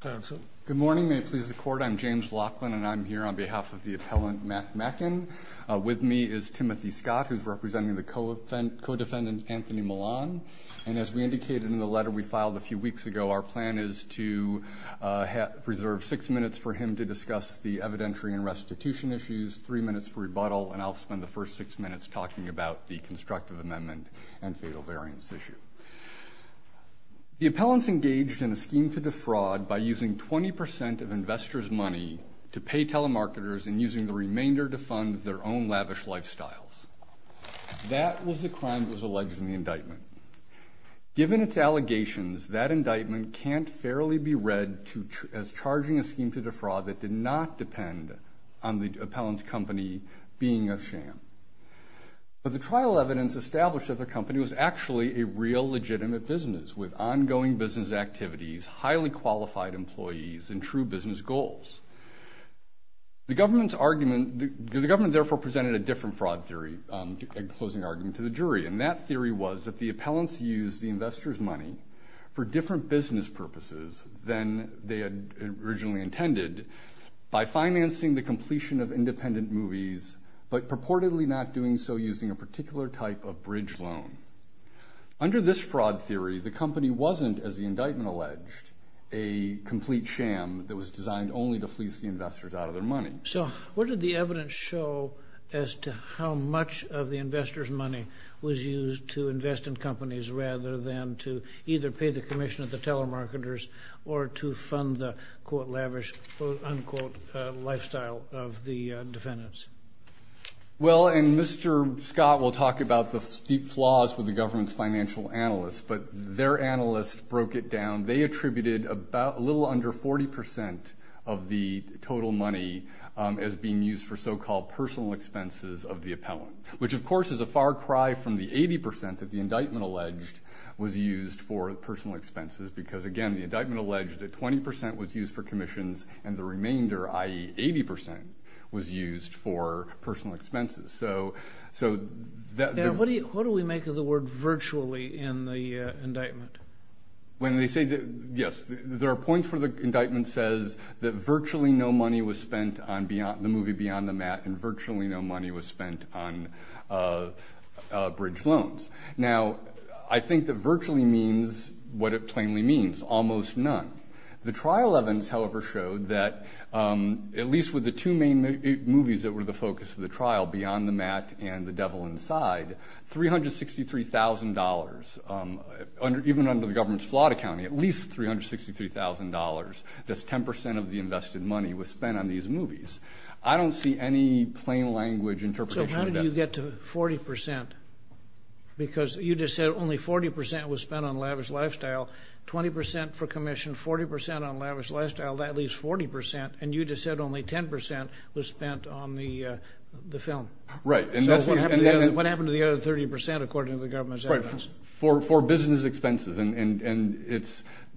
Good morning, may it please the court. I'm James Laughlin and I'm here on behalf of the appellant Matt Mackin. With me is Timothy Scott, who's representing the co-defendant Anthony Millan. And as we indicated in the letter we filed a few weeks ago, our plan is to preserve six minutes for him to discuss the evidentiary and restitution issues, three minutes for rebuttal, and I'll spend the first six minutes talking about the constructive amendment and fatal variance issue. The appellant's engaged in a scheme to defraud by using 20% of investors' money to pay telemarketers and using the remainder to fund their own lavish lifestyles. That was the crime that was alleged in the indictment. Given its allegations, that indictment can't fairly be read as charging a scheme to defraud that did not depend on the appellant's company being a sham. But the trial evidence established that the company was actually a real legitimate business with ongoing business activities, highly qualified employees, and true business goals. The government therefore presented a different fraud theory, a closing argument, to the jury, and that theory was that the appellants used the investors' money for different business purposes than they had originally intended by financing the completion of independent movies but purportedly not doing so using a particular type of bridge loan. Under this fraud theory, the company wasn't, as the indictment alleged, a complete sham that was designed only to fleece the investors out of their money. So what did the evidence show as to how much of the investors' money was used to invest in companies rather than to either pay the commission of the telemarketers or to fund the, quote, lavish, unquote, lifestyle of the defendants? Well, and Mr. Scott will talk about the steep flaws with the government's financial analysts, but their analysts broke it down. They attributed a little under 40 percent of the total money as being used for so-called personal expenses of the appellant, which of course is a far cry from the 80 percent that the indictment alleged was used for personal expenses because, again, the indictment alleged that 20 percent was used for commissions and the remainder, i.e. 80 percent, was used for personal expenses. So what do we make of the word virtually in the indictment? Yes, there are points where the indictment says that virtually no money was spent on the movie Beyond the Mat and virtually no money was spent on bridge loans. Now, I think that virtually means what it plainly means, almost none. The trial evidence, however, showed that at least with the two main movies that were the focus of the trial, Beyond the Mat and The Devil Inside, $363,000, even under the government's flawed accounting, at least $363,000, that's 10 percent of the invested money, was spent on these movies. I don't see any plain language interpretation of that. But you get to 40 percent because you just said only 40 percent was spent on Lavish Lifestyle, 20 percent for commission, 40 percent on Lavish Lifestyle, that leaves 40 percent, and you just said only 10 percent was spent on the film. Right. So what happened to the other 30 percent according to the government's evidence? Right, for business expenses. And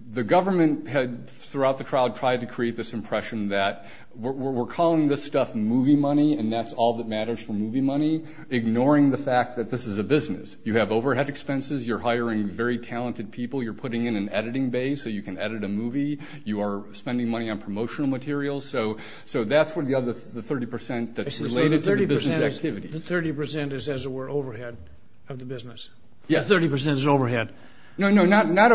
the government had, throughout the trial, tried to create this impression that we're calling this stuff movie money and that's all that matters for movie money, ignoring the fact that this is a business. You have overhead expenses. You're hiring very talented people. You're putting in an editing base so you can edit a movie. You are spending money on promotional materials. So that's where the other 30 percent that's related to the business activities. So the 30 percent is, as it were, overhead of the business. Yes. 30 percent is overhead. No, no, not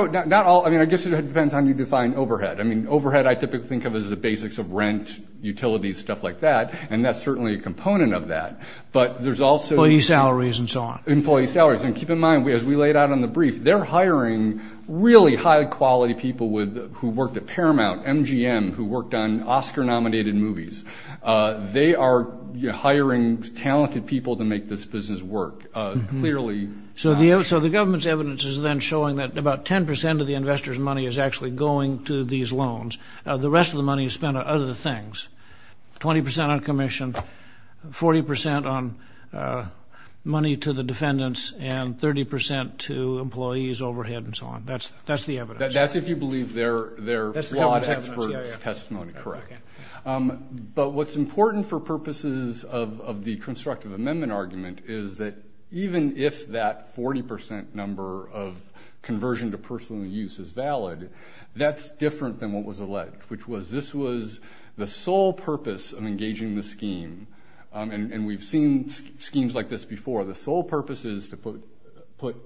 all. I mean, I guess it depends on how you define overhead. I mean, overhead I typically think of as the basics of rent, utilities, stuff like that, and that's certainly a component of that. But there's also. Employee salaries and so on. Employee salaries. And keep in mind, as we laid out in the brief, they're hiring really high-quality people who worked at Paramount, MGM, who worked on Oscar-nominated movies. They are hiring talented people to make this business work. Clearly. So the government's evidence is then showing that about 10 percent of the investor's money is actually going to these loans. The rest of the money is spent on other things. 20 percent on commission, 40 percent on money to the defendants, and 30 percent to employees, overhead, and so on. That's the evidence. That's if you believe their law expert's testimony correct. But what's important for purposes of the constructive amendment argument is that even if that 40 percent number of conversion to personal use is valid, that's different than what was alleged, which was this was the sole purpose of engaging the scheme. And we've seen schemes like this before. The sole purpose is to put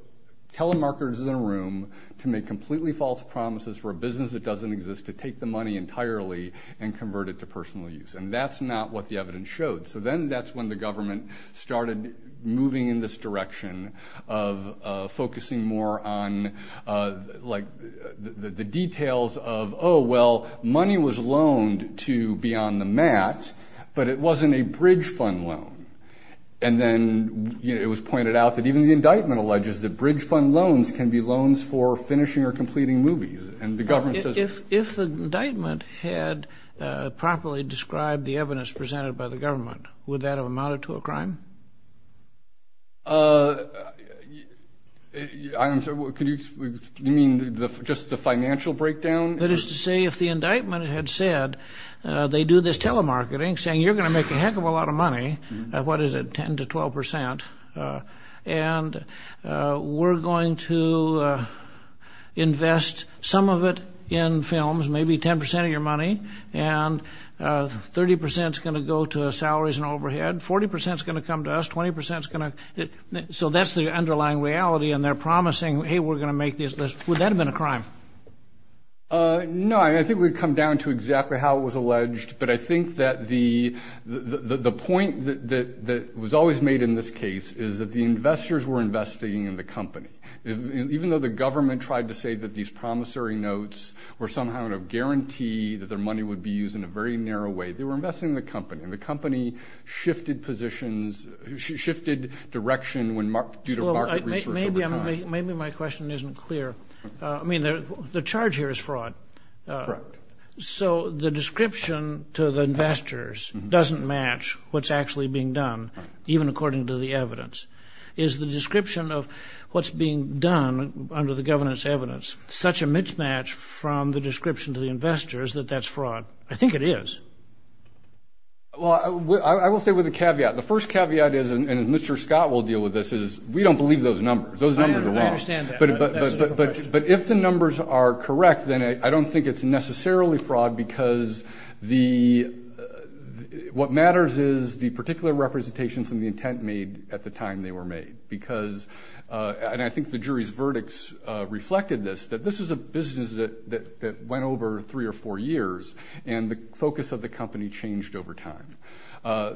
telemarketers in a room to make completely false promises for a business that doesn't exist, to take the money entirely and convert it to personal use. And that's not what the evidence showed. So then that's when the government started moving in this direction of focusing more on, like, the details of, oh, well, money was loaned to be on the mat, but it wasn't a bridge fund loan. And then it was pointed out that even the indictment alleges that bridge fund loans can be loans for finishing or completing movies. And the government says – If the indictment had properly described the evidence presented by the government, would that have amounted to a crime? I'm sorry, could you – you mean just the financial breakdown? That is to say, if the indictment had said they do this telemarketing, saying you're going to make a heck of a lot of money, what is it, 10 to 12 percent, and we're going to invest some of it in films, maybe 10 percent of your money, and 30 percent is going to go to salaries and overhead, 40 percent is going to come to us, 20 percent is going to – so that's the underlying reality, and they're promising, hey, we're going to make these – would that have been a crime? No, I think we'd come down to exactly how it was alleged. But I think that the point that was always made in this case is that the investors were investing in the company. Even though the government tried to say that these promissory notes were somehow going to guarantee that their money would be used in a very narrow way, they were investing in the company, and the company shifted positions – shifted direction due to market resource over time. Maybe my question isn't clear. I mean, the charge here is fraud. Correct. So the description to the investors doesn't match what's actually being done, even according to the evidence. Is the description of what's being done under the governance evidence such a mismatch from the description to the investors that that's fraud? I think it is. Well, I will say with a caveat. The first caveat is – and Mr. Scott will deal with this – is we don't believe those numbers. Those numbers are wrong. I understand that. But if the numbers are correct, then I don't think it's necessarily fraud because the – And I think the jury's verdicts reflected this, that this is a business that went over three or four years, and the focus of the company changed over time.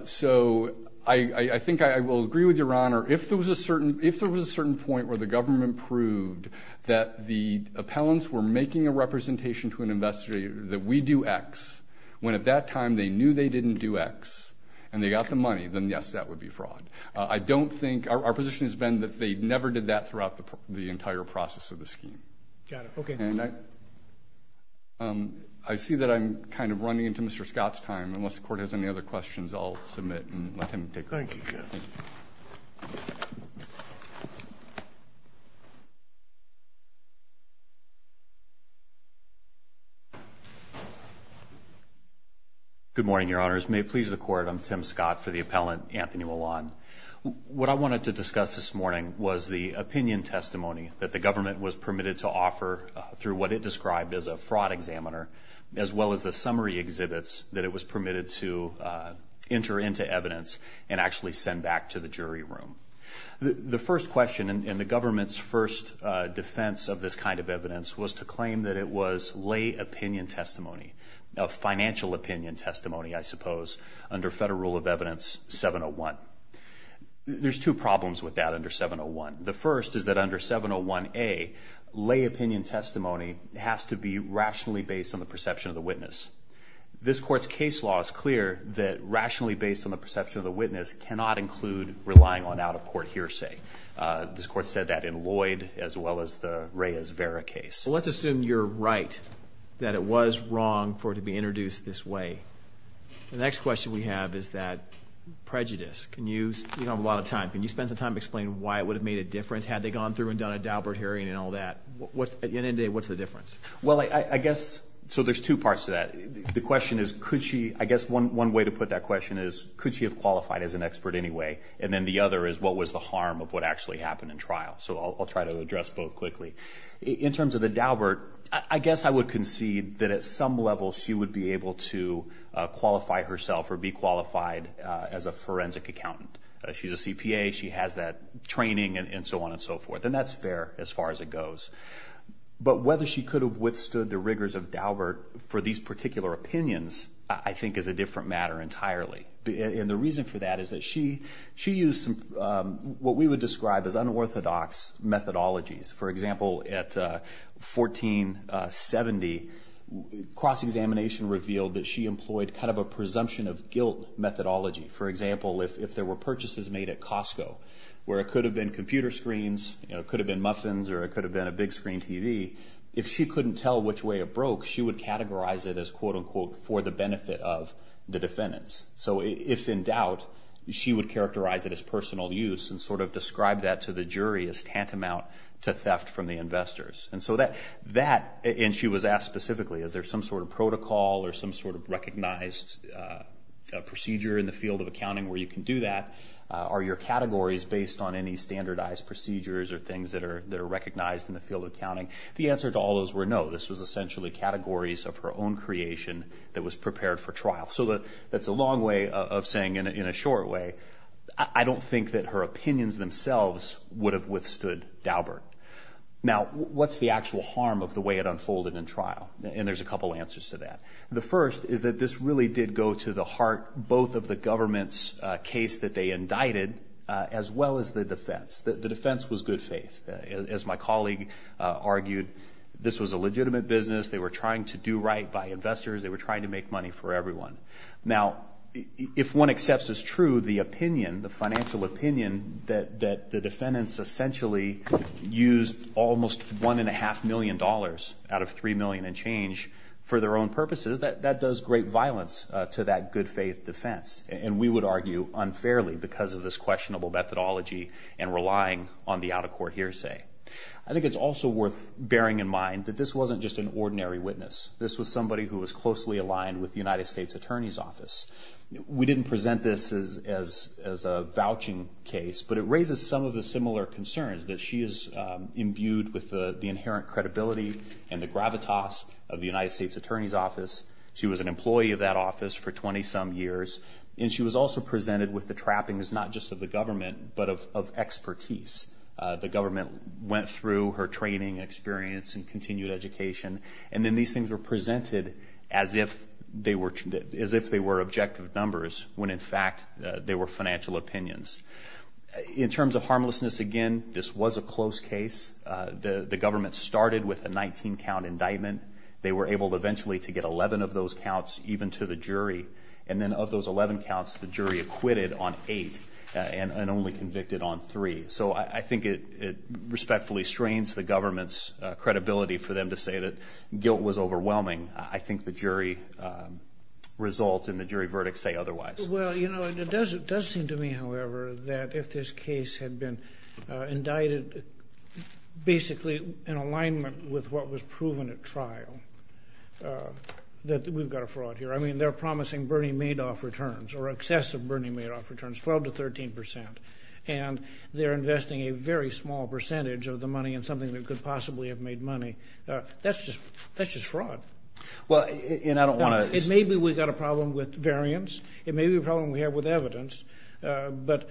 So I think I will agree with Your Honor. If there was a certain point where the government proved that the appellants were making a representation to an investigator that we do X, when at that time they knew they didn't do X and they got the money, then yes, that would be fraud. I don't think – our position has been that they never did that throughout the entire process of the scheme. Got it. Okay. And I see that I'm kind of running into Mr. Scott's time. Unless the Court has any other questions, I'll submit and let him take them. Thank you, Jeff. Thank you. Good morning, Your Honors. May it please the Court, I'm Tim Scott for the appellant, Anthony Wallon. What I wanted to discuss this morning was the opinion testimony that the government was permitted to offer through what it described as a fraud examiner, as well as the summary exhibits that it was permitted to enter into evidence and actually send back to the jury room. The first question in the government's first defense of this kind of evidence was to claim that it was lay opinion testimony, financial opinion testimony, I suppose, under Federal Rule of Evidence 701. There's two problems with that under 701. The first is that under 701A, lay opinion testimony has to be rationally based on the perception of the witness. This Court's case law is clear that rationally based on the perception of the witness cannot include relying on out-of-court hearsay. This Court said that in Lloyd as well as the Reyes-Vera case. Well, let's assume you're right, that it was wrong for it to be introduced this way. The next question we have is that prejudice. You don't have a lot of time. Can you spend some time explaining why it would have made a difference had they gone through and done a Daubert hearing and all that? At the end of the day, what's the difference? Well, I guess, so there's two parts to that. The question is, could she, I guess one way to put that question is, could she have qualified as an expert anyway? And then the other is, what was the harm of what actually happened in trial? So I'll try to address both quickly. In terms of the Daubert, I guess I would concede that at some level she would be able to qualify herself or be qualified as a forensic accountant. She's a CPA. She has that training and so on and so forth, and that's fair as far as it goes. But whether she could have withstood the rigors of Daubert for these particular opinions I think is a different matter entirely. And the reason for that is that she used what we would describe as unorthodox methodologies. For example, at 1470, cross-examination revealed that she employed kind of a presumption of guilt methodology. For example, if there were purchases made at Costco where it could have been computer screens, it could have been muffins, or it could have been a big screen TV, if she couldn't tell which way it broke, she would categorize it as, quote, unquote, for the benefit of the defendants. So if in doubt, she would characterize it as personal use and sort of describe that to the jury as tantamount to theft from the investors. And so that, and she was asked specifically, is there some sort of protocol or some sort of recognized procedure in the field of accounting where you can do that? Are your categories based on any standardized procedures or things that are recognized in the field of accounting? The answer to all those were no. This was essentially categories of her own creation that was prepared for trial. So that's a long way of saying, in a short way, I don't think that her opinions themselves would have withstood Daubert. Now, what's the actual harm of the way it unfolded in trial? And there's a couple answers to that. The first is that this really did go to the heart both of the government's case that they indicted as well as the defense. The defense was good faith. As my colleague argued, this was a legitimate business. They were trying to do right by investors. They were trying to make money for everyone. Now, if one accepts as true the opinion, the financial opinion, that the defendants essentially used almost $1.5 million out of $3 million and change for their own purposes, that does great violence to that good faith defense. And we would argue unfairly because of this questionable methodology and relying on the out-of-court hearsay. I think it's also worth bearing in mind that this wasn't just an ordinary witness. This was somebody who was closely aligned with the United States Attorney's Office. We didn't present this as a vouching case, but it raises some of the similar concerns that she is imbued with the inherent credibility and the gravitas of the United States Attorney's Office. She was an employee of that office for 20-some years, and she was also presented with the trappings not just of the government but of expertise. The government went through her training, experience, and continued education, and then these things were presented as if they were objective numbers when, in fact, they were financial opinions. In terms of harmlessness, again, this was a close case. The government started with a 19-count indictment. They were able eventually to get 11 of those counts even to the jury, and then of those 11 counts, the jury acquitted on 8 and only convicted on 3. So I think it respectfully strains the government's credibility for them to say that guilt was overwhelming. I think the jury result and the jury verdict say otherwise. Well, you know, it does seem to me, however, that if this case had been indicted, basically in alignment with what was proven at trial, that we've got a fraud here. I mean, they're promising Bernie Madoff returns or excessive Bernie Madoff returns, 12% to 13%, and they're investing a very small percentage of the money in something that could possibly have made money. That's just fraud. Well, and I don't want to— Maybe we've got a problem with variance. It may be a problem we have with evidence. But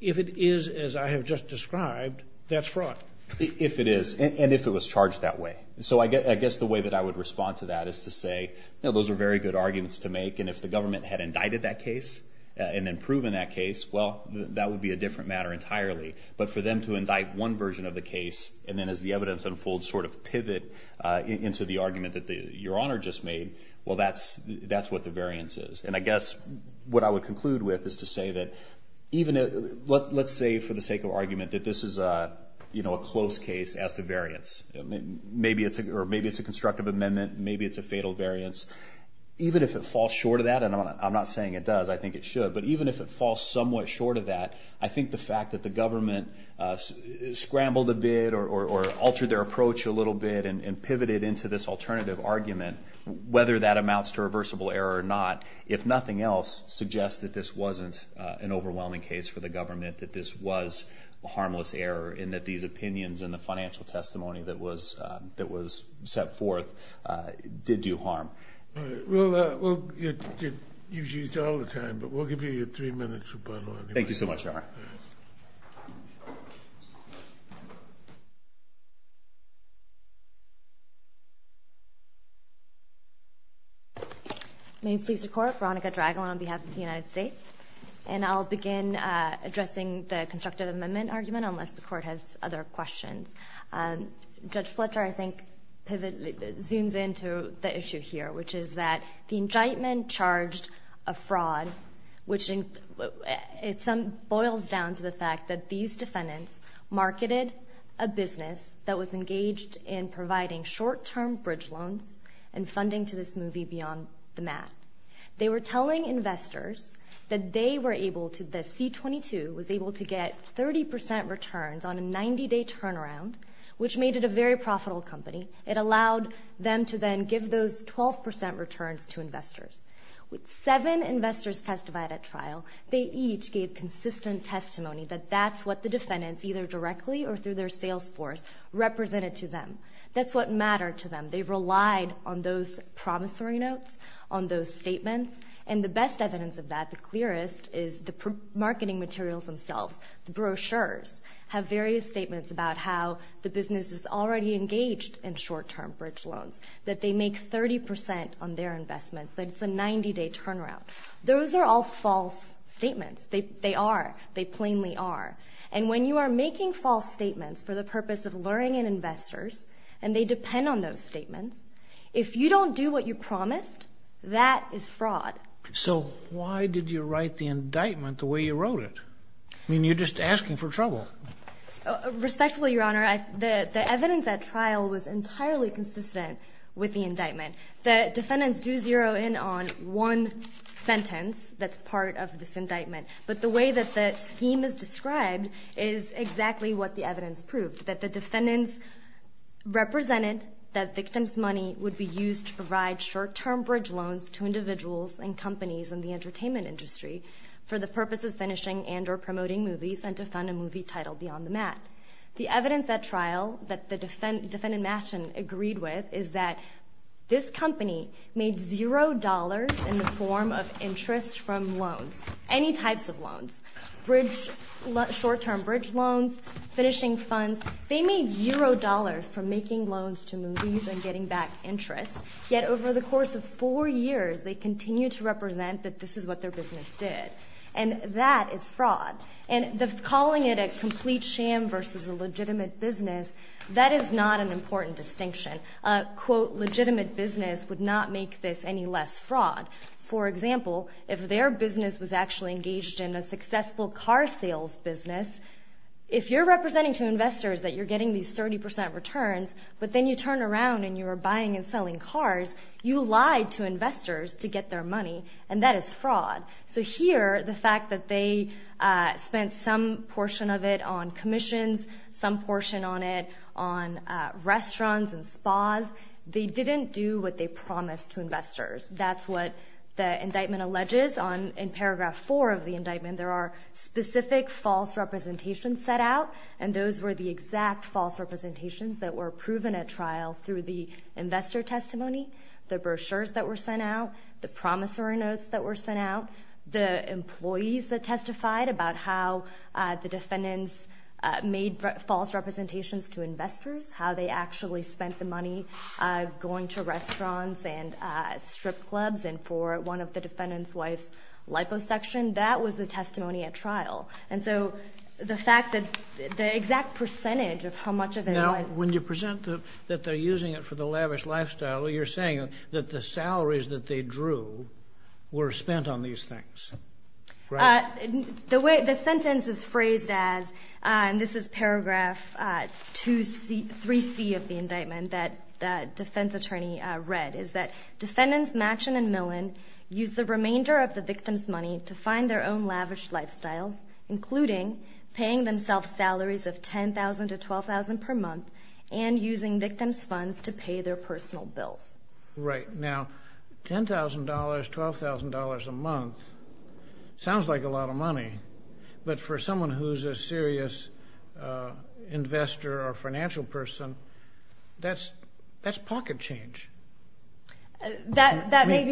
if it is as I have just described, that's fraud. If it is, and if it was charged that way. So I guess the way that I would respond to that is to say, you know, those are very good arguments to make, and if the government had indicted that case and then proven that case, well, that would be a different matter entirely. But for them to indict one version of the case, and then as the evidence unfolds sort of pivot into the argument that Your Honor just made, well, that's what the variance is. And I guess what I would conclude with is to say that even— let's say for the sake of argument that this is, you know, a close case as to variance. Maybe it's a constructive amendment. Maybe it's a fatal variance. Even if it falls short of that, and I'm not saying it does. I think it should. But even if it falls somewhat short of that, I think the fact that the government scrambled a bit or altered their approach a little bit and pivoted into this alternative argument, whether that amounts to reversible error or not, if nothing else, suggests that this wasn't an overwhelming case for the government, that this was harmless error, and that these opinions and the financial testimony that was set forth did do harm. All right. Well, you've used all the time, but we'll give you three minutes for final arguments. Thank you so much, Your Honor. All right. May it please the Court. Veronica Dragan on behalf of the United States. And I'll begin addressing the constructive amendment argument unless the Court has other questions. Judge Fletcher, I think, zooms into the issue here, which is that the indictment charged a fraud, which boils down to the fact that these defendants marketed a business that was engaged in providing short-term bridge loans and funding to this movie Beyond the Mat. They were telling investors that the C-22 was able to get 30% returns on a 90-day turnaround, which made it a very profitable company. It allowed them to then give those 12% returns to investors. With seven investors testified at trial, they each gave consistent testimony that that's what the defendants, either directly or through their sales force, represented to them. That's what mattered to them. They relied on those promissory notes, on those statements. And the best evidence of that, the clearest, is the marketing materials themselves. The brochures have various statements about how the business is already engaged in short-term bridge loans, that they make 30% on their investment, that it's a 90-day turnaround. Those are all false statements. They are. They plainly are. And when you are making false statements for the purpose of luring in investors, and they depend on those statements, if you don't do what you promised, that is fraud. So why did you write the indictment the way you wrote it? I mean, you're just asking for trouble. Respectfully, Your Honor, the evidence at trial was entirely consistent with the indictment. The defendants do zero in on one sentence that's part of this indictment. But the way that the scheme is described is exactly what the evidence proved, that the defendants represented that victims' money would be used to provide short-term bridge loans to individuals and companies in the entertainment industry for the purpose of finishing and or promoting movies and to fund a movie titled Beyond the Mat. The evidence at trial that the defendant, Machen, agreed with is that this company made $0 in the form of interest from loans. Any types of loans. Short-term bridge loans, finishing funds. They made $0 from making loans to movies and getting back interest. Yet over the course of four years, they continue to represent that this is what their business did. And that is fraud. And calling it a complete sham versus a legitimate business, that is not an important distinction. A, quote, legitimate business would not make this any less fraud. For example, if their business was actually engaged in a successful car sales business, if you're representing to investors that you're getting these 30% returns, but then you turn around and you're buying and selling cars, you lied to investors to get their money. And that is fraud. So here, the fact that they spent some portion of it on commissions, some portion on it on restaurants and spas, they didn't do what they promised to investors. That's what the indictment alleges in Paragraph 4 of the indictment. There are specific false representations set out, and those were the exact false representations that were proven at trial through the investor testimony, the brochures that were sent out, the promissory notes that were sent out, the employees that testified about how the defendants made false representations to investors, how they actually spent the money going to restaurants and strip clubs, and for one of the defendant's wife's liposuction, that was the testimony at trial. And so the fact that the exact percentage of how much of it was. Now, when you present that they're using it for the lavish lifestyle, you're saying that the salaries that they drew were spent on these things, right? The sentence is phrased as, and this is Paragraph 3C of the indictment that the defense attorney read, is that defendants Machen and Millen used the remainder of the victim's money to find their own lavish lifestyle, including paying themselves salaries of $10,000 to $12,000 per month and using victim's funds to pay their personal bills. Right. Now, $10,000, $12,000 a month sounds like a lot of money, but for someone who's a serious investor or financial person, that's pocket change. That may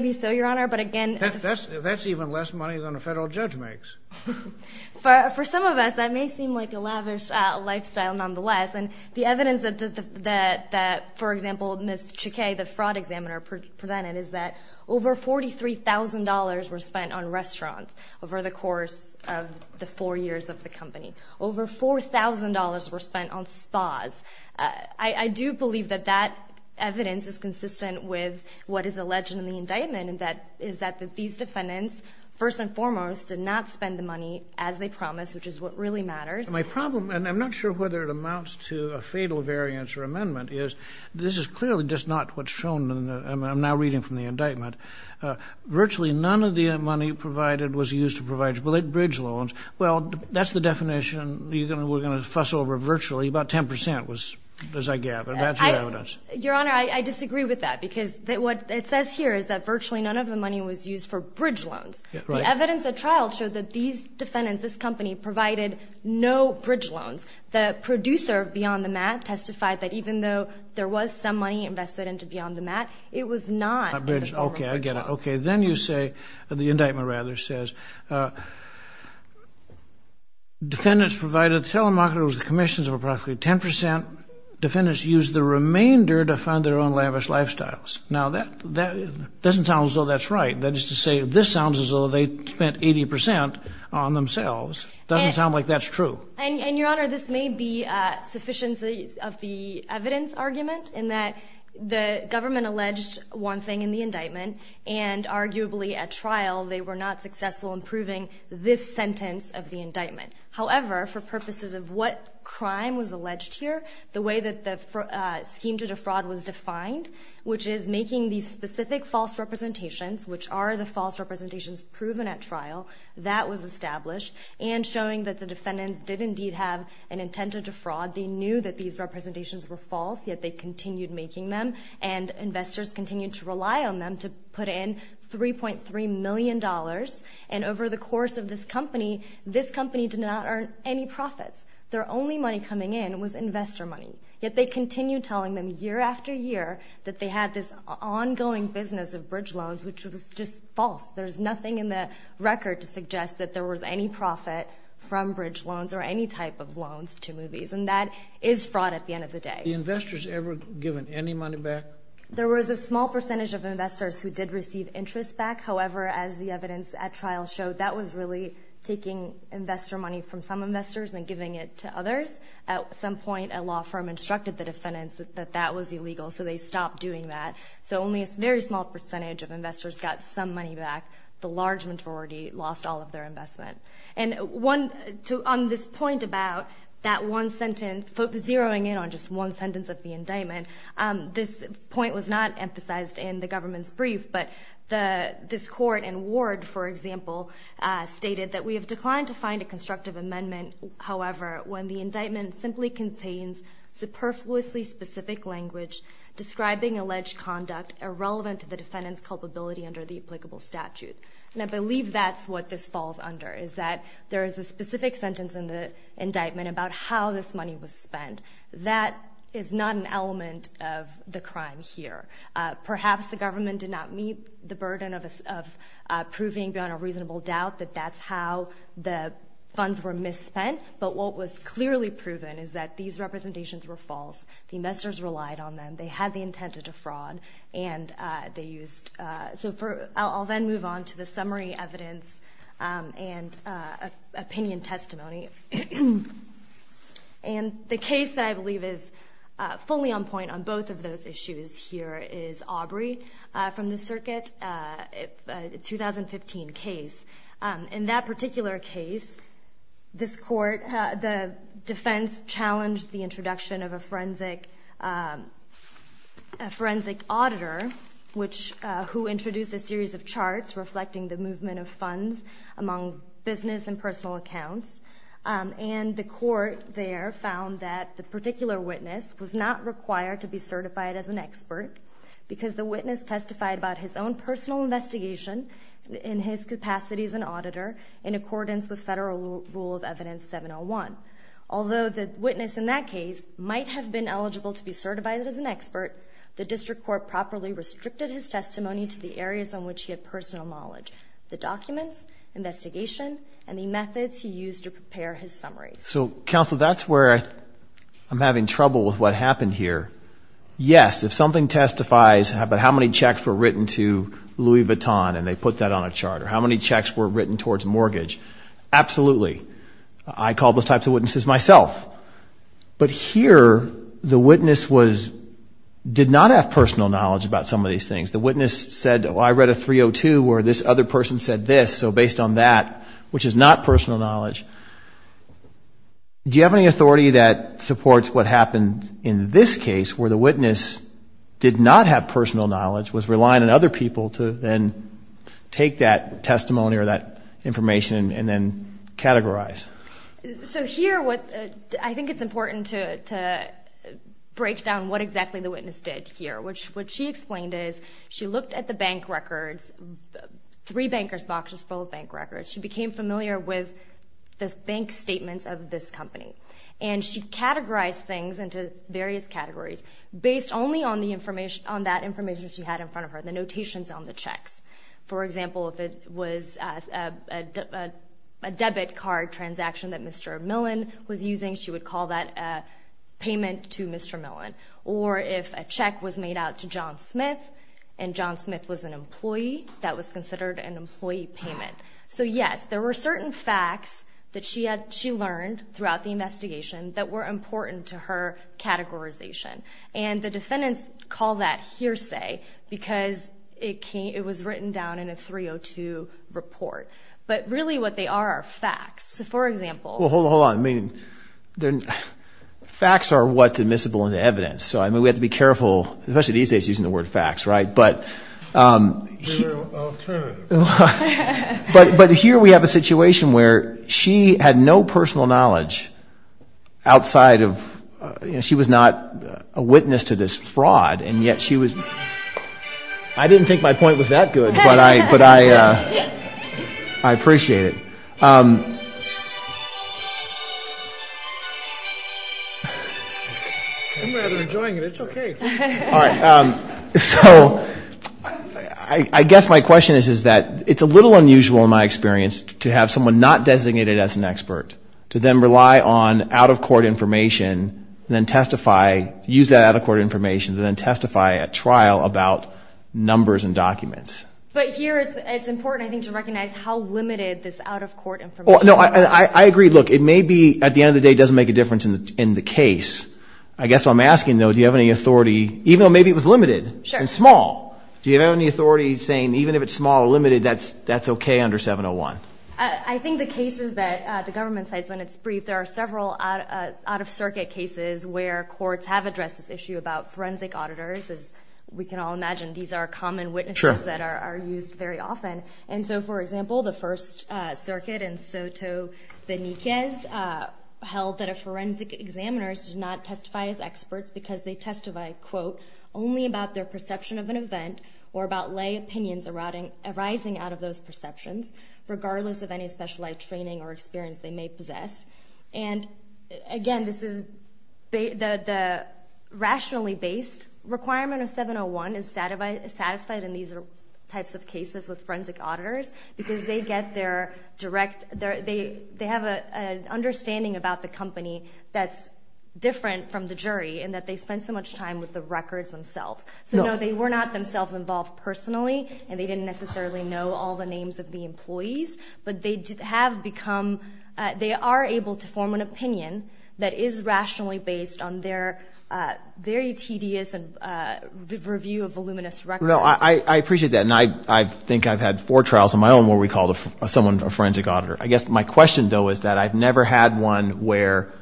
be so, Your Honor, but again. That's even less money than a federal judge makes. For some of us, that may seem like a lavish lifestyle nonetheless, and the evidence that, for example, Ms. Chekay, the fraud examiner, presented is that over $43,000 were spent on restaurants over the course of the four years of the company. Over $4,000 were spent on spas. I do believe that that evidence is consistent with what is alleged in the indictment, and that is that these defendants, first and foremost, did not spend the money as they promised, which is what really matters. My problem, and I'm not sure whether it amounts to a fatal variance or amendment, is this is clearly just not what's shown. I'm now reading from the indictment. Virtually none of the money provided was used to provide bridge loans. Well, that's the definition we're going to fuss over virtually. About 10% was, as I gather. That's your evidence. Your Honor, I disagree with that because what it says here is that virtually none of the money was used for bridge loans. The evidence at trial showed that these defendants, this company, provided no bridge loans. The producer of Beyond the Mat testified that even though there was some money invested into Beyond the Mat, it was not in the form of bridge loans. Okay, I get it. Okay, then you say, the indictment rather says, defendants provided telemarketers with commissions of approximately 10%. Defendants used the remainder to fund their own lavish lifestyles. Now, that doesn't sound as though that's right. That is to say, this sounds as though they spent 80% on themselves. It doesn't sound like that's true. And, Your Honor, this may be sufficient of the evidence argument in that the government alleged one thing in the indictment, and arguably at trial they were not successful in proving this sentence of the indictment. However, for purposes of what crime was alleged here, the way that the scheme to defraud was defined, which is making these specific false representations, which are the false representations proven at trial, that was established, and showing that the defendants did indeed have an intent to defraud. They knew that these representations were false, yet they continued making them, and investors continued to rely on them to put in $3.3 million. And over the course of this company, this company did not earn any profits. Their only money coming in was investor money. Yet they continued telling them year after year that they had this ongoing business of bridge loans, which was just false. There's nothing in the record to suggest that there was any profit from bridge loans or any type of loans to movies, and that is fraud at the end of the day. The investors ever given any money back? There was a small percentage of investors who did receive interest back. However, as the evidence at trial showed, that was really taking investor money from some investors and giving it to others. At some point, a law firm instructed the defendants that that was illegal, so they stopped doing that. So only a very small percentage of investors got some money back. The large majority lost all of their investment. And on this point about that one sentence, zeroing in on just one sentence of the indictment, this point was not emphasized in the government's brief, but this court in Ward, for example, stated that, We have declined to find a constructive amendment, however, when the indictment simply contains superfluously specific language describing alleged conduct irrelevant to the defendant's culpability under the applicable statute. And I believe that's what this falls under, is that there is a specific sentence in the indictment about how this money was spent. That is not an element of the crime here. Perhaps the government did not meet the burden of proving beyond a reasonable doubt that that's how the funds were misspent, but what was clearly proven is that these representations were false. The investors relied on them. They had the intent to defraud. I'll then move on to the summary evidence and opinion testimony. And the case that I believe is fully on point on both of those issues here is Aubrey from the circuit, a 2015 case. In that particular case, this court, the defense challenged the introduction of a forensic auditor, who introduced a series of charts reflecting the movement of funds among business and personal accounts. And the court there found that the particular witness was not required to be certified as an expert because the witness testified about his own personal investigation in his capacity as an auditor in accordance with Federal Rule of Evidence 701. Although the witness in that case might have been eligible to be certified as an expert, the district court properly restricted his testimony to the areas on which he had personal knowledge. The documents, investigation, and the methods he used to prepare his summary. So, counsel, that's where I'm having trouble with what happened here. Yes, if something testifies about how many checks were written to Louis Vuitton and they put that on a chart, or how many checks were written towards mortgage, absolutely. I call those types of witnesses myself. But here, the witness did not have personal knowledge about some of these things. The witness said, oh, I read a 302 where this other person said this, so based on that, which is not personal knowledge. Do you have any authority that supports what happened in this case, where the witness did not have personal knowledge, was relying on other people to then take that testimony or that information and then categorize? So here, I think it's important to break down what exactly the witness did here. What she explained is she looked at the bank records, three bankers' boxes full of bank records. She became familiar with the bank statements of this company. And she categorized things into various categories based only on that information she had in front of her, the notations on the checks. For example, if it was a debit card transaction that Mr. Millen was using, she would call that a payment to Mr. Millen. Or if a check was made out to John Smith and John Smith was an employee, that was considered an employee payment. So yes, there were certain facts that she learned throughout the investigation that were important to her categorization. And the defendants call that hearsay because it was written down in a 302 report. But really what they are are facts. Well, hold on. Facts are what's admissible in evidence. So we have to be careful, especially these days using the word facts, right? But here we have a situation where she had no personal knowledge outside of – she was not a witness to this fraud and yet she was – I didn't think my point was that good, but I appreciate it. I'm rather enjoying it. It's okay. All right. So I guess my question is that it's a little unusual in my experience to have someone not designated as an expert to then rely on out-of-court information and then testify – use that out-of-court information and then testify at trial about numbers and documents. But here it's important, I think, to recognize how limited this out-of-court information is. Well, no, I agree. Look, it may be at the end of the day it doesn't make a difference in the case. I guess what I'm asking, though, do you have any authority – even though maybe it was limited and small. Do you have any authority saying even if it's small or limited, that's okay under 701? I think the cases that the government cites when it's briefed, there are several out-of-circuit cases where courts have addressed this issue about forensic auditors. As we can all imagine, these are common witnesses that are used very often. And so, for example, the First Circuit in Soto Beniquez held that a forensic examiner does not testify as experts because they testify, quote, only about their perception of an event or about lay opinions arising out of those perceptions, regardless of any specialized training or experience they may possess. And, again, this is – the rationally based requirement of 701 is satisfied in these types of cases with forensic auditors because they get their direct – they have an understanding about the company that's different from the jury in that they spend so much time with the records themselves. So, no, they were not themselves involved personally, and they didn't necessarily know all the names of the employees, but they have become – they are able to form an opinion that is rationally based on their very tedious review of voluminous records. No, I appreciate that, and I think I've had four trials on my own where we called someone a forensic auditor. I guess my question, though, is that I've never had one where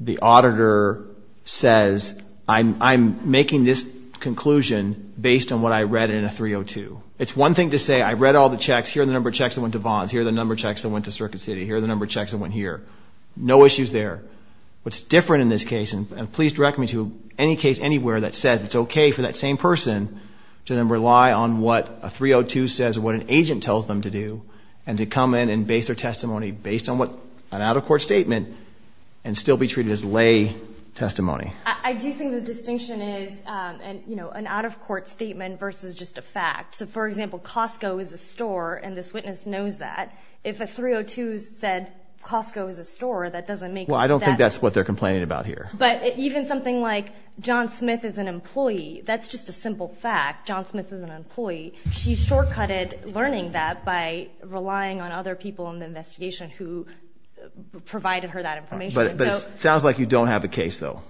the auditor says, I'm making this conclusion based on what I read in a 302. It's one thing to say, I read all the checks. Here are the number of checks that went to Vons. Here are the number of checks that went to Circuit City. Here are the number of checks that went here. No issues there. What's different in this case – and please direct me to any case anywhere that says it's okay for that same person to then rely on what a 302 says or what an agent tells them to do and to come in and base their testimony based on what – an out-of-court statement and still be treated as lay testimony. I do think the distinction is an out-of-court statement versus just a fact. So, for example, Costco is a store, and this witness knows that. If a 302 said Costco is a store, that doesn't make – Well, I don't think that's what they're complaining about here. But even something like John Smith is an employee, that's just a simple fact. John Smith is an employee. She shortcutted learning that by relying on other people in the investigation who provided her that information. But it sounds like you don't have a case, though.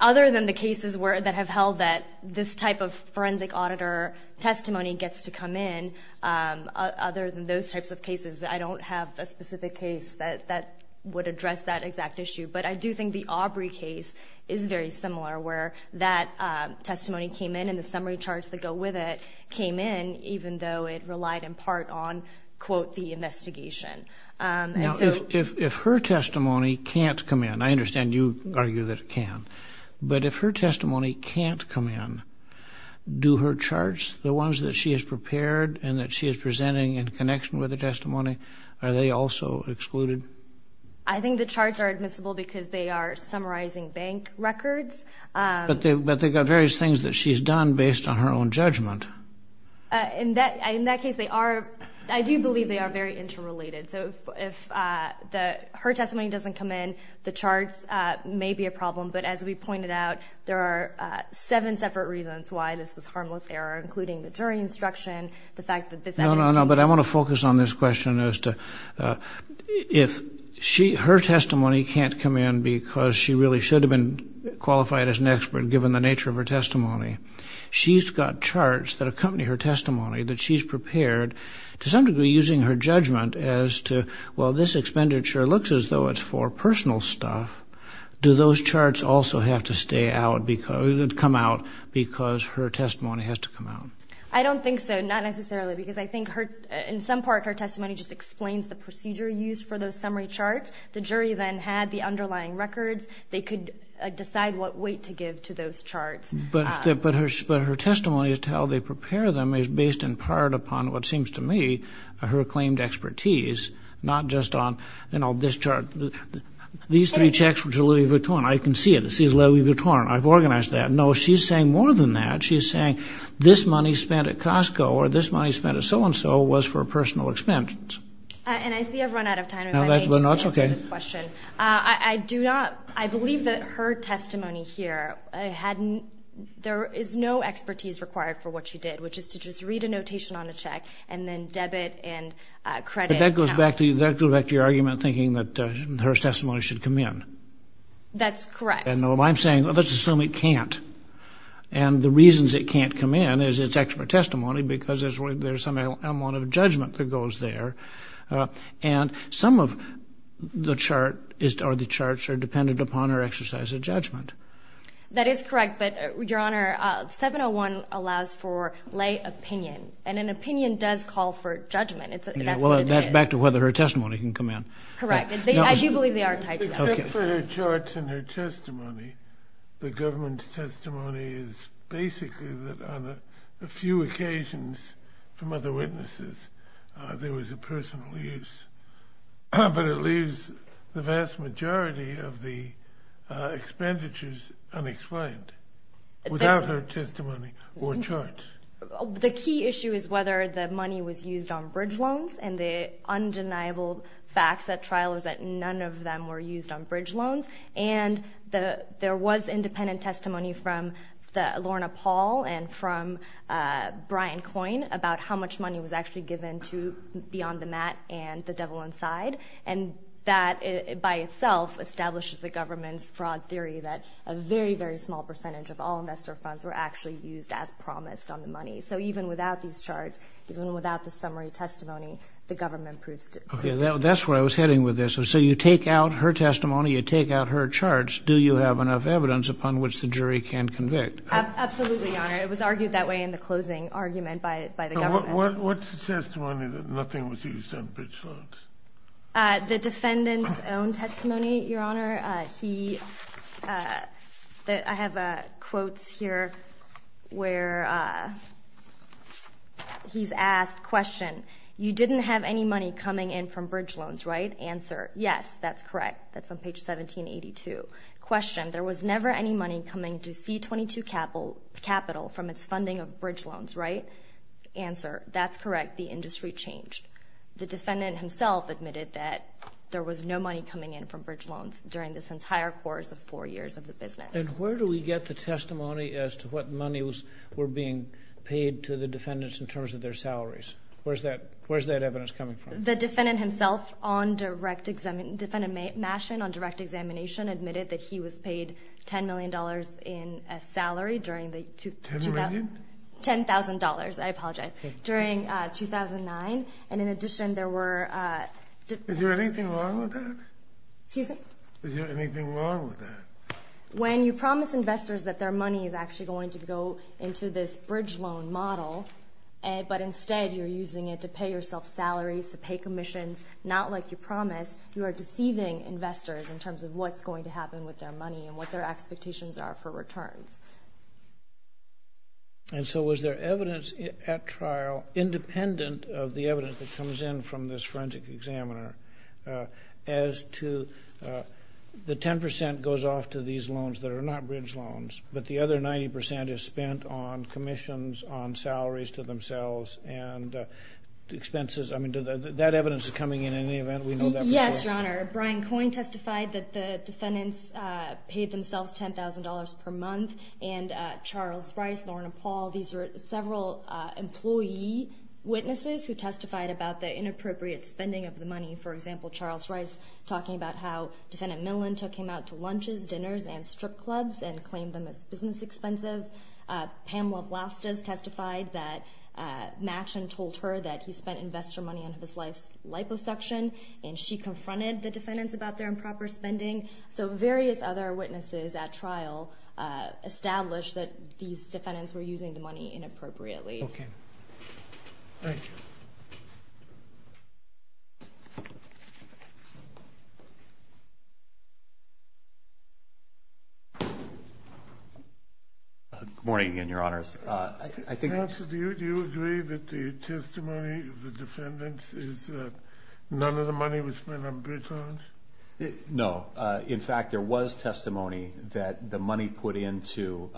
Other than the cases that have held that this type of forensic auditor testimony gets to come in, other than those types of cases, I don't have a specific case that would address that exact issue. But I do think the Aubrey case is very similar where that testimony came in and the summary charts that go with it came in even though it relied in part on, quote, the investigation. Now, if her testimony can't come in – I understand you argue that it can – but if her testimony can't come in, do her charts, the ones that she has prepared and that she is presenting in connection with the testimony, are they also excluded? I think the charts are admissible because they are summarizing bank records. But they've got various things that she's done based on her own judgment. In that case, they are – I do believe they are very interrelated. So if her testimony doesn't come in, the charts may be a problem. But as we pointed out, there are seven separate reasons why this was a harmless error, including the jury instruction, the fact that this evidence – No, no, no, but I want to focus on this question as to if her testimony can't come in because she really should have been qualified as an expert given the nature of her testimony. She's got charts that accompany her testimony that she's prepared, to some degree using her judgment as to, well, this expenditure looks as though it's for personal stuff. Do those charts also have to stay out – come out because her testimony has to come out? I don't think so, not necessarily, because I think her – in some part her testimony just explains the procedure used for those summary charts. The jury then had the underlying records. They could decide what weight to give to those charts. But her testimony as to how they prepare them is based in part upon, what seems to me, her acclaimed expertise, not just on, you know, this chart. These three checks, which are Louis Vuitton, I can see it. It says Louis Vuitton. I've organized that. No, she's saying more than that. She's saying this money spent at Costco or this money spent at so-and-so was for personal expenses. And I see I've run out of time. No, that's okay. I do not – I believe that her testimony here had – there is no expertise required for what she did, which is to just read a notation on a check and then debit and credit. But that goes back to your argument thinking that her testimony should come in. That's correct. And I'm saying, well, let's assume it can't. And the reasons it can't come in is it's expert testimony because there's some amount of judgment that goes there. And some of the chart is – or the charts are dependent upon her exercise of judgment. That is correct. But, Your Honor, 701 allows for lay opinion, and an opinion does call for judgment. That's what it is. Well, that's back to whether her testimony can come in. Correct. As you believe, they are tied together. Except for her charts and her testimony, the government's testimony is basically that on a few occasions from other witnesses there was a personal use. But it leaves the vast majority of the expenditures unexplained without her testimony or charts. The key issue is whether the money was used on bridge loans and the undeniable fact at trial is that none of them were used on bridge loans. And there was independent testimony from Lorna Paul and from Brian Coyne about how much money was actually given to Beyond the Mat and The Devil Inside. And that by itself establishes the government's fraud theory that a very, very small percentage of all investor funds were actually used as promised on the money. So even without these charts, even without the summary testimony, the government proves to be the best. That's where I was heading with this. So you take out her testimony, you take out her charts. Absolutely, Your Honor. It was argued that way in the closing argument by the government. What's the testimony that nothing was used on bridge loans? The defendant's own testimony, Your Honor. I have quotes here where he's asked, Question, you didn't have any money coming in from bridge loans, right? Answer, yes, that's correct. That's on page 1782. Question, there was never any money coming to C-22 Capital from its funding of bridge loans, right? Answer, that's correct. The industry changed. The defendant himself admitted that there was no money coming in from bridge loans during this entire course of four years of the business. And where do we get the testimony as to what money was being paid to the defendants in terms of their salaries? Where's that evidence coming from? The defendant himself on direct examination, Defendant Maschen on direct examination admitted that he was paid $10 million in salary during the... $10 million? $10,000, I apologize, during 2009. And in addition, there were... Is there anything wrong with that? Excuse me? Is there anything wrong with that? When you promise investors that their money is actually going to go into this bridge loan model, but instead you're using it to pay yourself salaries, to pay commissions, not like you promised, you are deceiving investors in terms of what's going to happen with their money and what their expectations are for returns. And so was there evidence at trial, independent of the evidence that comes in from this forensic examiner, as to the 10% goes off to these loans that are not bridge loans, but the other 90% is spent on commissions, on salaries to themselves, and expenses? I mean, that evidence is coming in any event? We know that before? Yes, Your Honor. Brian Coyne testified that the defendants paid themselves $10,000 per month, and Charles Rice, Lorna Paul, these are several employee witnesses who testified about the inappropriate spending of the money. For example, Charles Rice talking about how Defendant Millen took him out to lunches, dinners, and strip clubs and claimed them as business expensive. Pamela Blastos testified that Machen told her that he spent investor money on his wife's liposuction, and she confronted the defendants about their improper spending. So various other witnesses at trial established that these defendants were using the money inappropriately. Okay. Thank you. Good morning again, Your Honors. Counsel, do you agree that the testimony of the defendants is that none of the money was spent on bridge loans? No. In fact, there was testimony that the money put into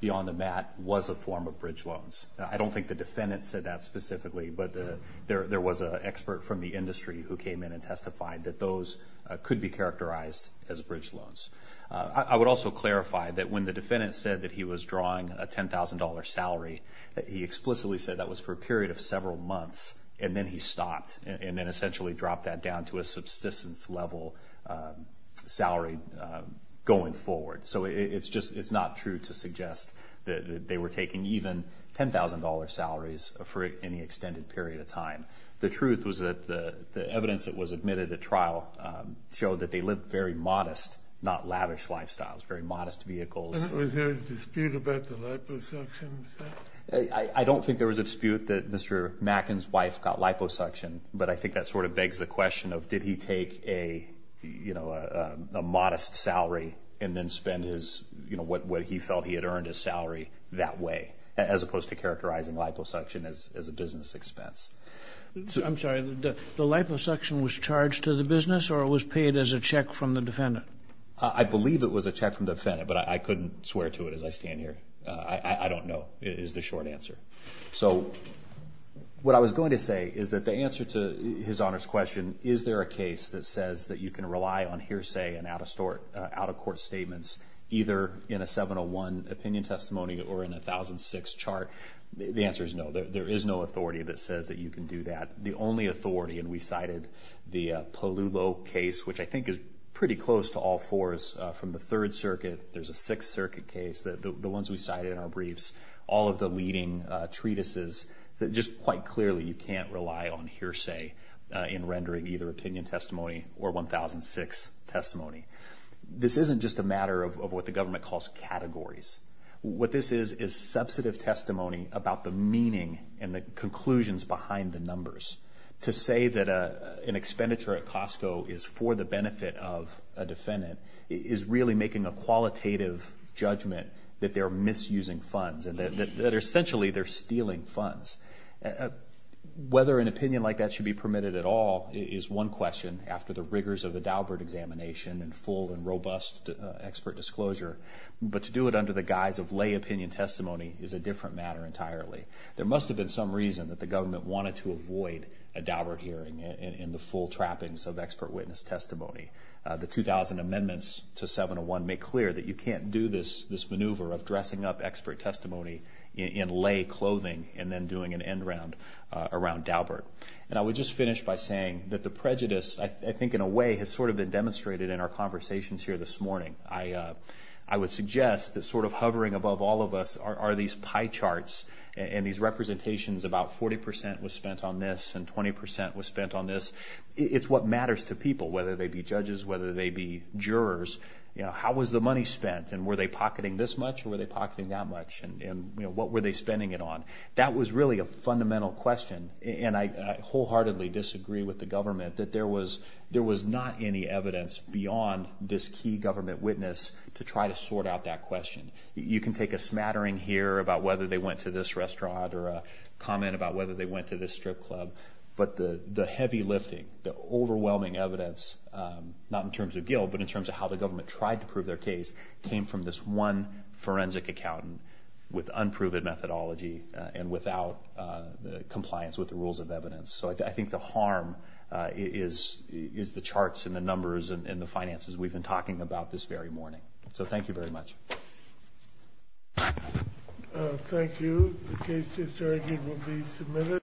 Beyond the Mat was a form of bridge loans. I don't think the defendants said that specifically, but there was an expert from the industry who came in and testified that those could be characterized as bridge loans. I would also clarify that when the defendant said that he was drawing a $10,000 salary, he explicitly said that was for a period of several months, and then he stopped and then essentially dropped that down to a subsistence-level salary going forward. So it's not true to suggest that they were taking even $10,000 salaries for any extended period of time. The truth was that the evidence that was admitted at trial showed that they lived very modest, not lavish lifestyles, very modest vehicles. Was there a dispute about the liposuction? I don't think there was a dispute that Mr. Macken's wife got liposuction, but I think that sort of begs the question of did he take a modest salary and then spend what he felt he had earned his salary that way, as opposed to characterizing liposuction as a business expense. I'm sorry, the liposuction was charged to the business or it was paid as a check from the defendant? I believe it was a check from the defendant, but I couldn't swear to it as I stand here. I don't know is the short answer. So what I was going to say is that the answer to His Honor's question, is there a case that says that you can rely on hearsay and out-of-court statements either in a 701 opinion testimony or in a 1006 chart, the answer is no. There is no authority that says that you can do that. The only authority, and we cited the Polubo case, which I think is pretty close to all fours from the Third Circuit. There's a Sixth Circuit case, the ones we cited in our briefs, all of the leading treatises that just quite clearly you can't rely on hearsay in rendering either opinion testimony or 1006 testimony. This isn't just a matter of what the government calls categories. What this is is substantive testimony about the meaning and the conclusions behind the numbers. To say that an expenditure at Costco is for the benefit of a defendant is really making a qualitative judgment that they're misusing funds and that essentially they're stealing funds. Whether an opinion like that should be permitted at all is one question after the rigors of the Daubert examination and full and robust expert disclosure. But to do it under the guise of lay opinion testimony is a different matter entirely. There must have been some reason that the government wanted to avoid a Daubert hearing and the full trappings of expert witness testimony. The 2000 amendments to 701 make clear that you can't do this maneuver of dressing up expert testimony in lay clothing and then doing an end round around Daubert. I would just finish by saying that the prejudice, I think in a way, has sort of been demonstrated in our conversations here this morning. I would suggest that sort of hovering above all of us are these pie charts and these representations about 40% was spent on this and 20% was spent on this. It's what matters to people, whether they be judges, whether they be jurors. How was the money spent, and were they pocketing this much or were they pocketing that much, and what were they spending it on? That was really a fundamental question, and I wholeheartedly disagree with the government that there was not any evidence beyond this key government witness to try to sort out that question. You can take a smattering here about whether they went to this restaurant or a comment about whether they went to this strip club, but the heavy lifting, the overwhelming evidence, not in terms of guilt but in terms of how the government tried to prove their case, came from this one forensic accountant with unproven methodology and without compliance with the rules of evidence. So I think the harm is the charts and the numbers and the finances we've been talking about this very morning. So thank you very much. Thank you. The case is adjourned and will be submitted.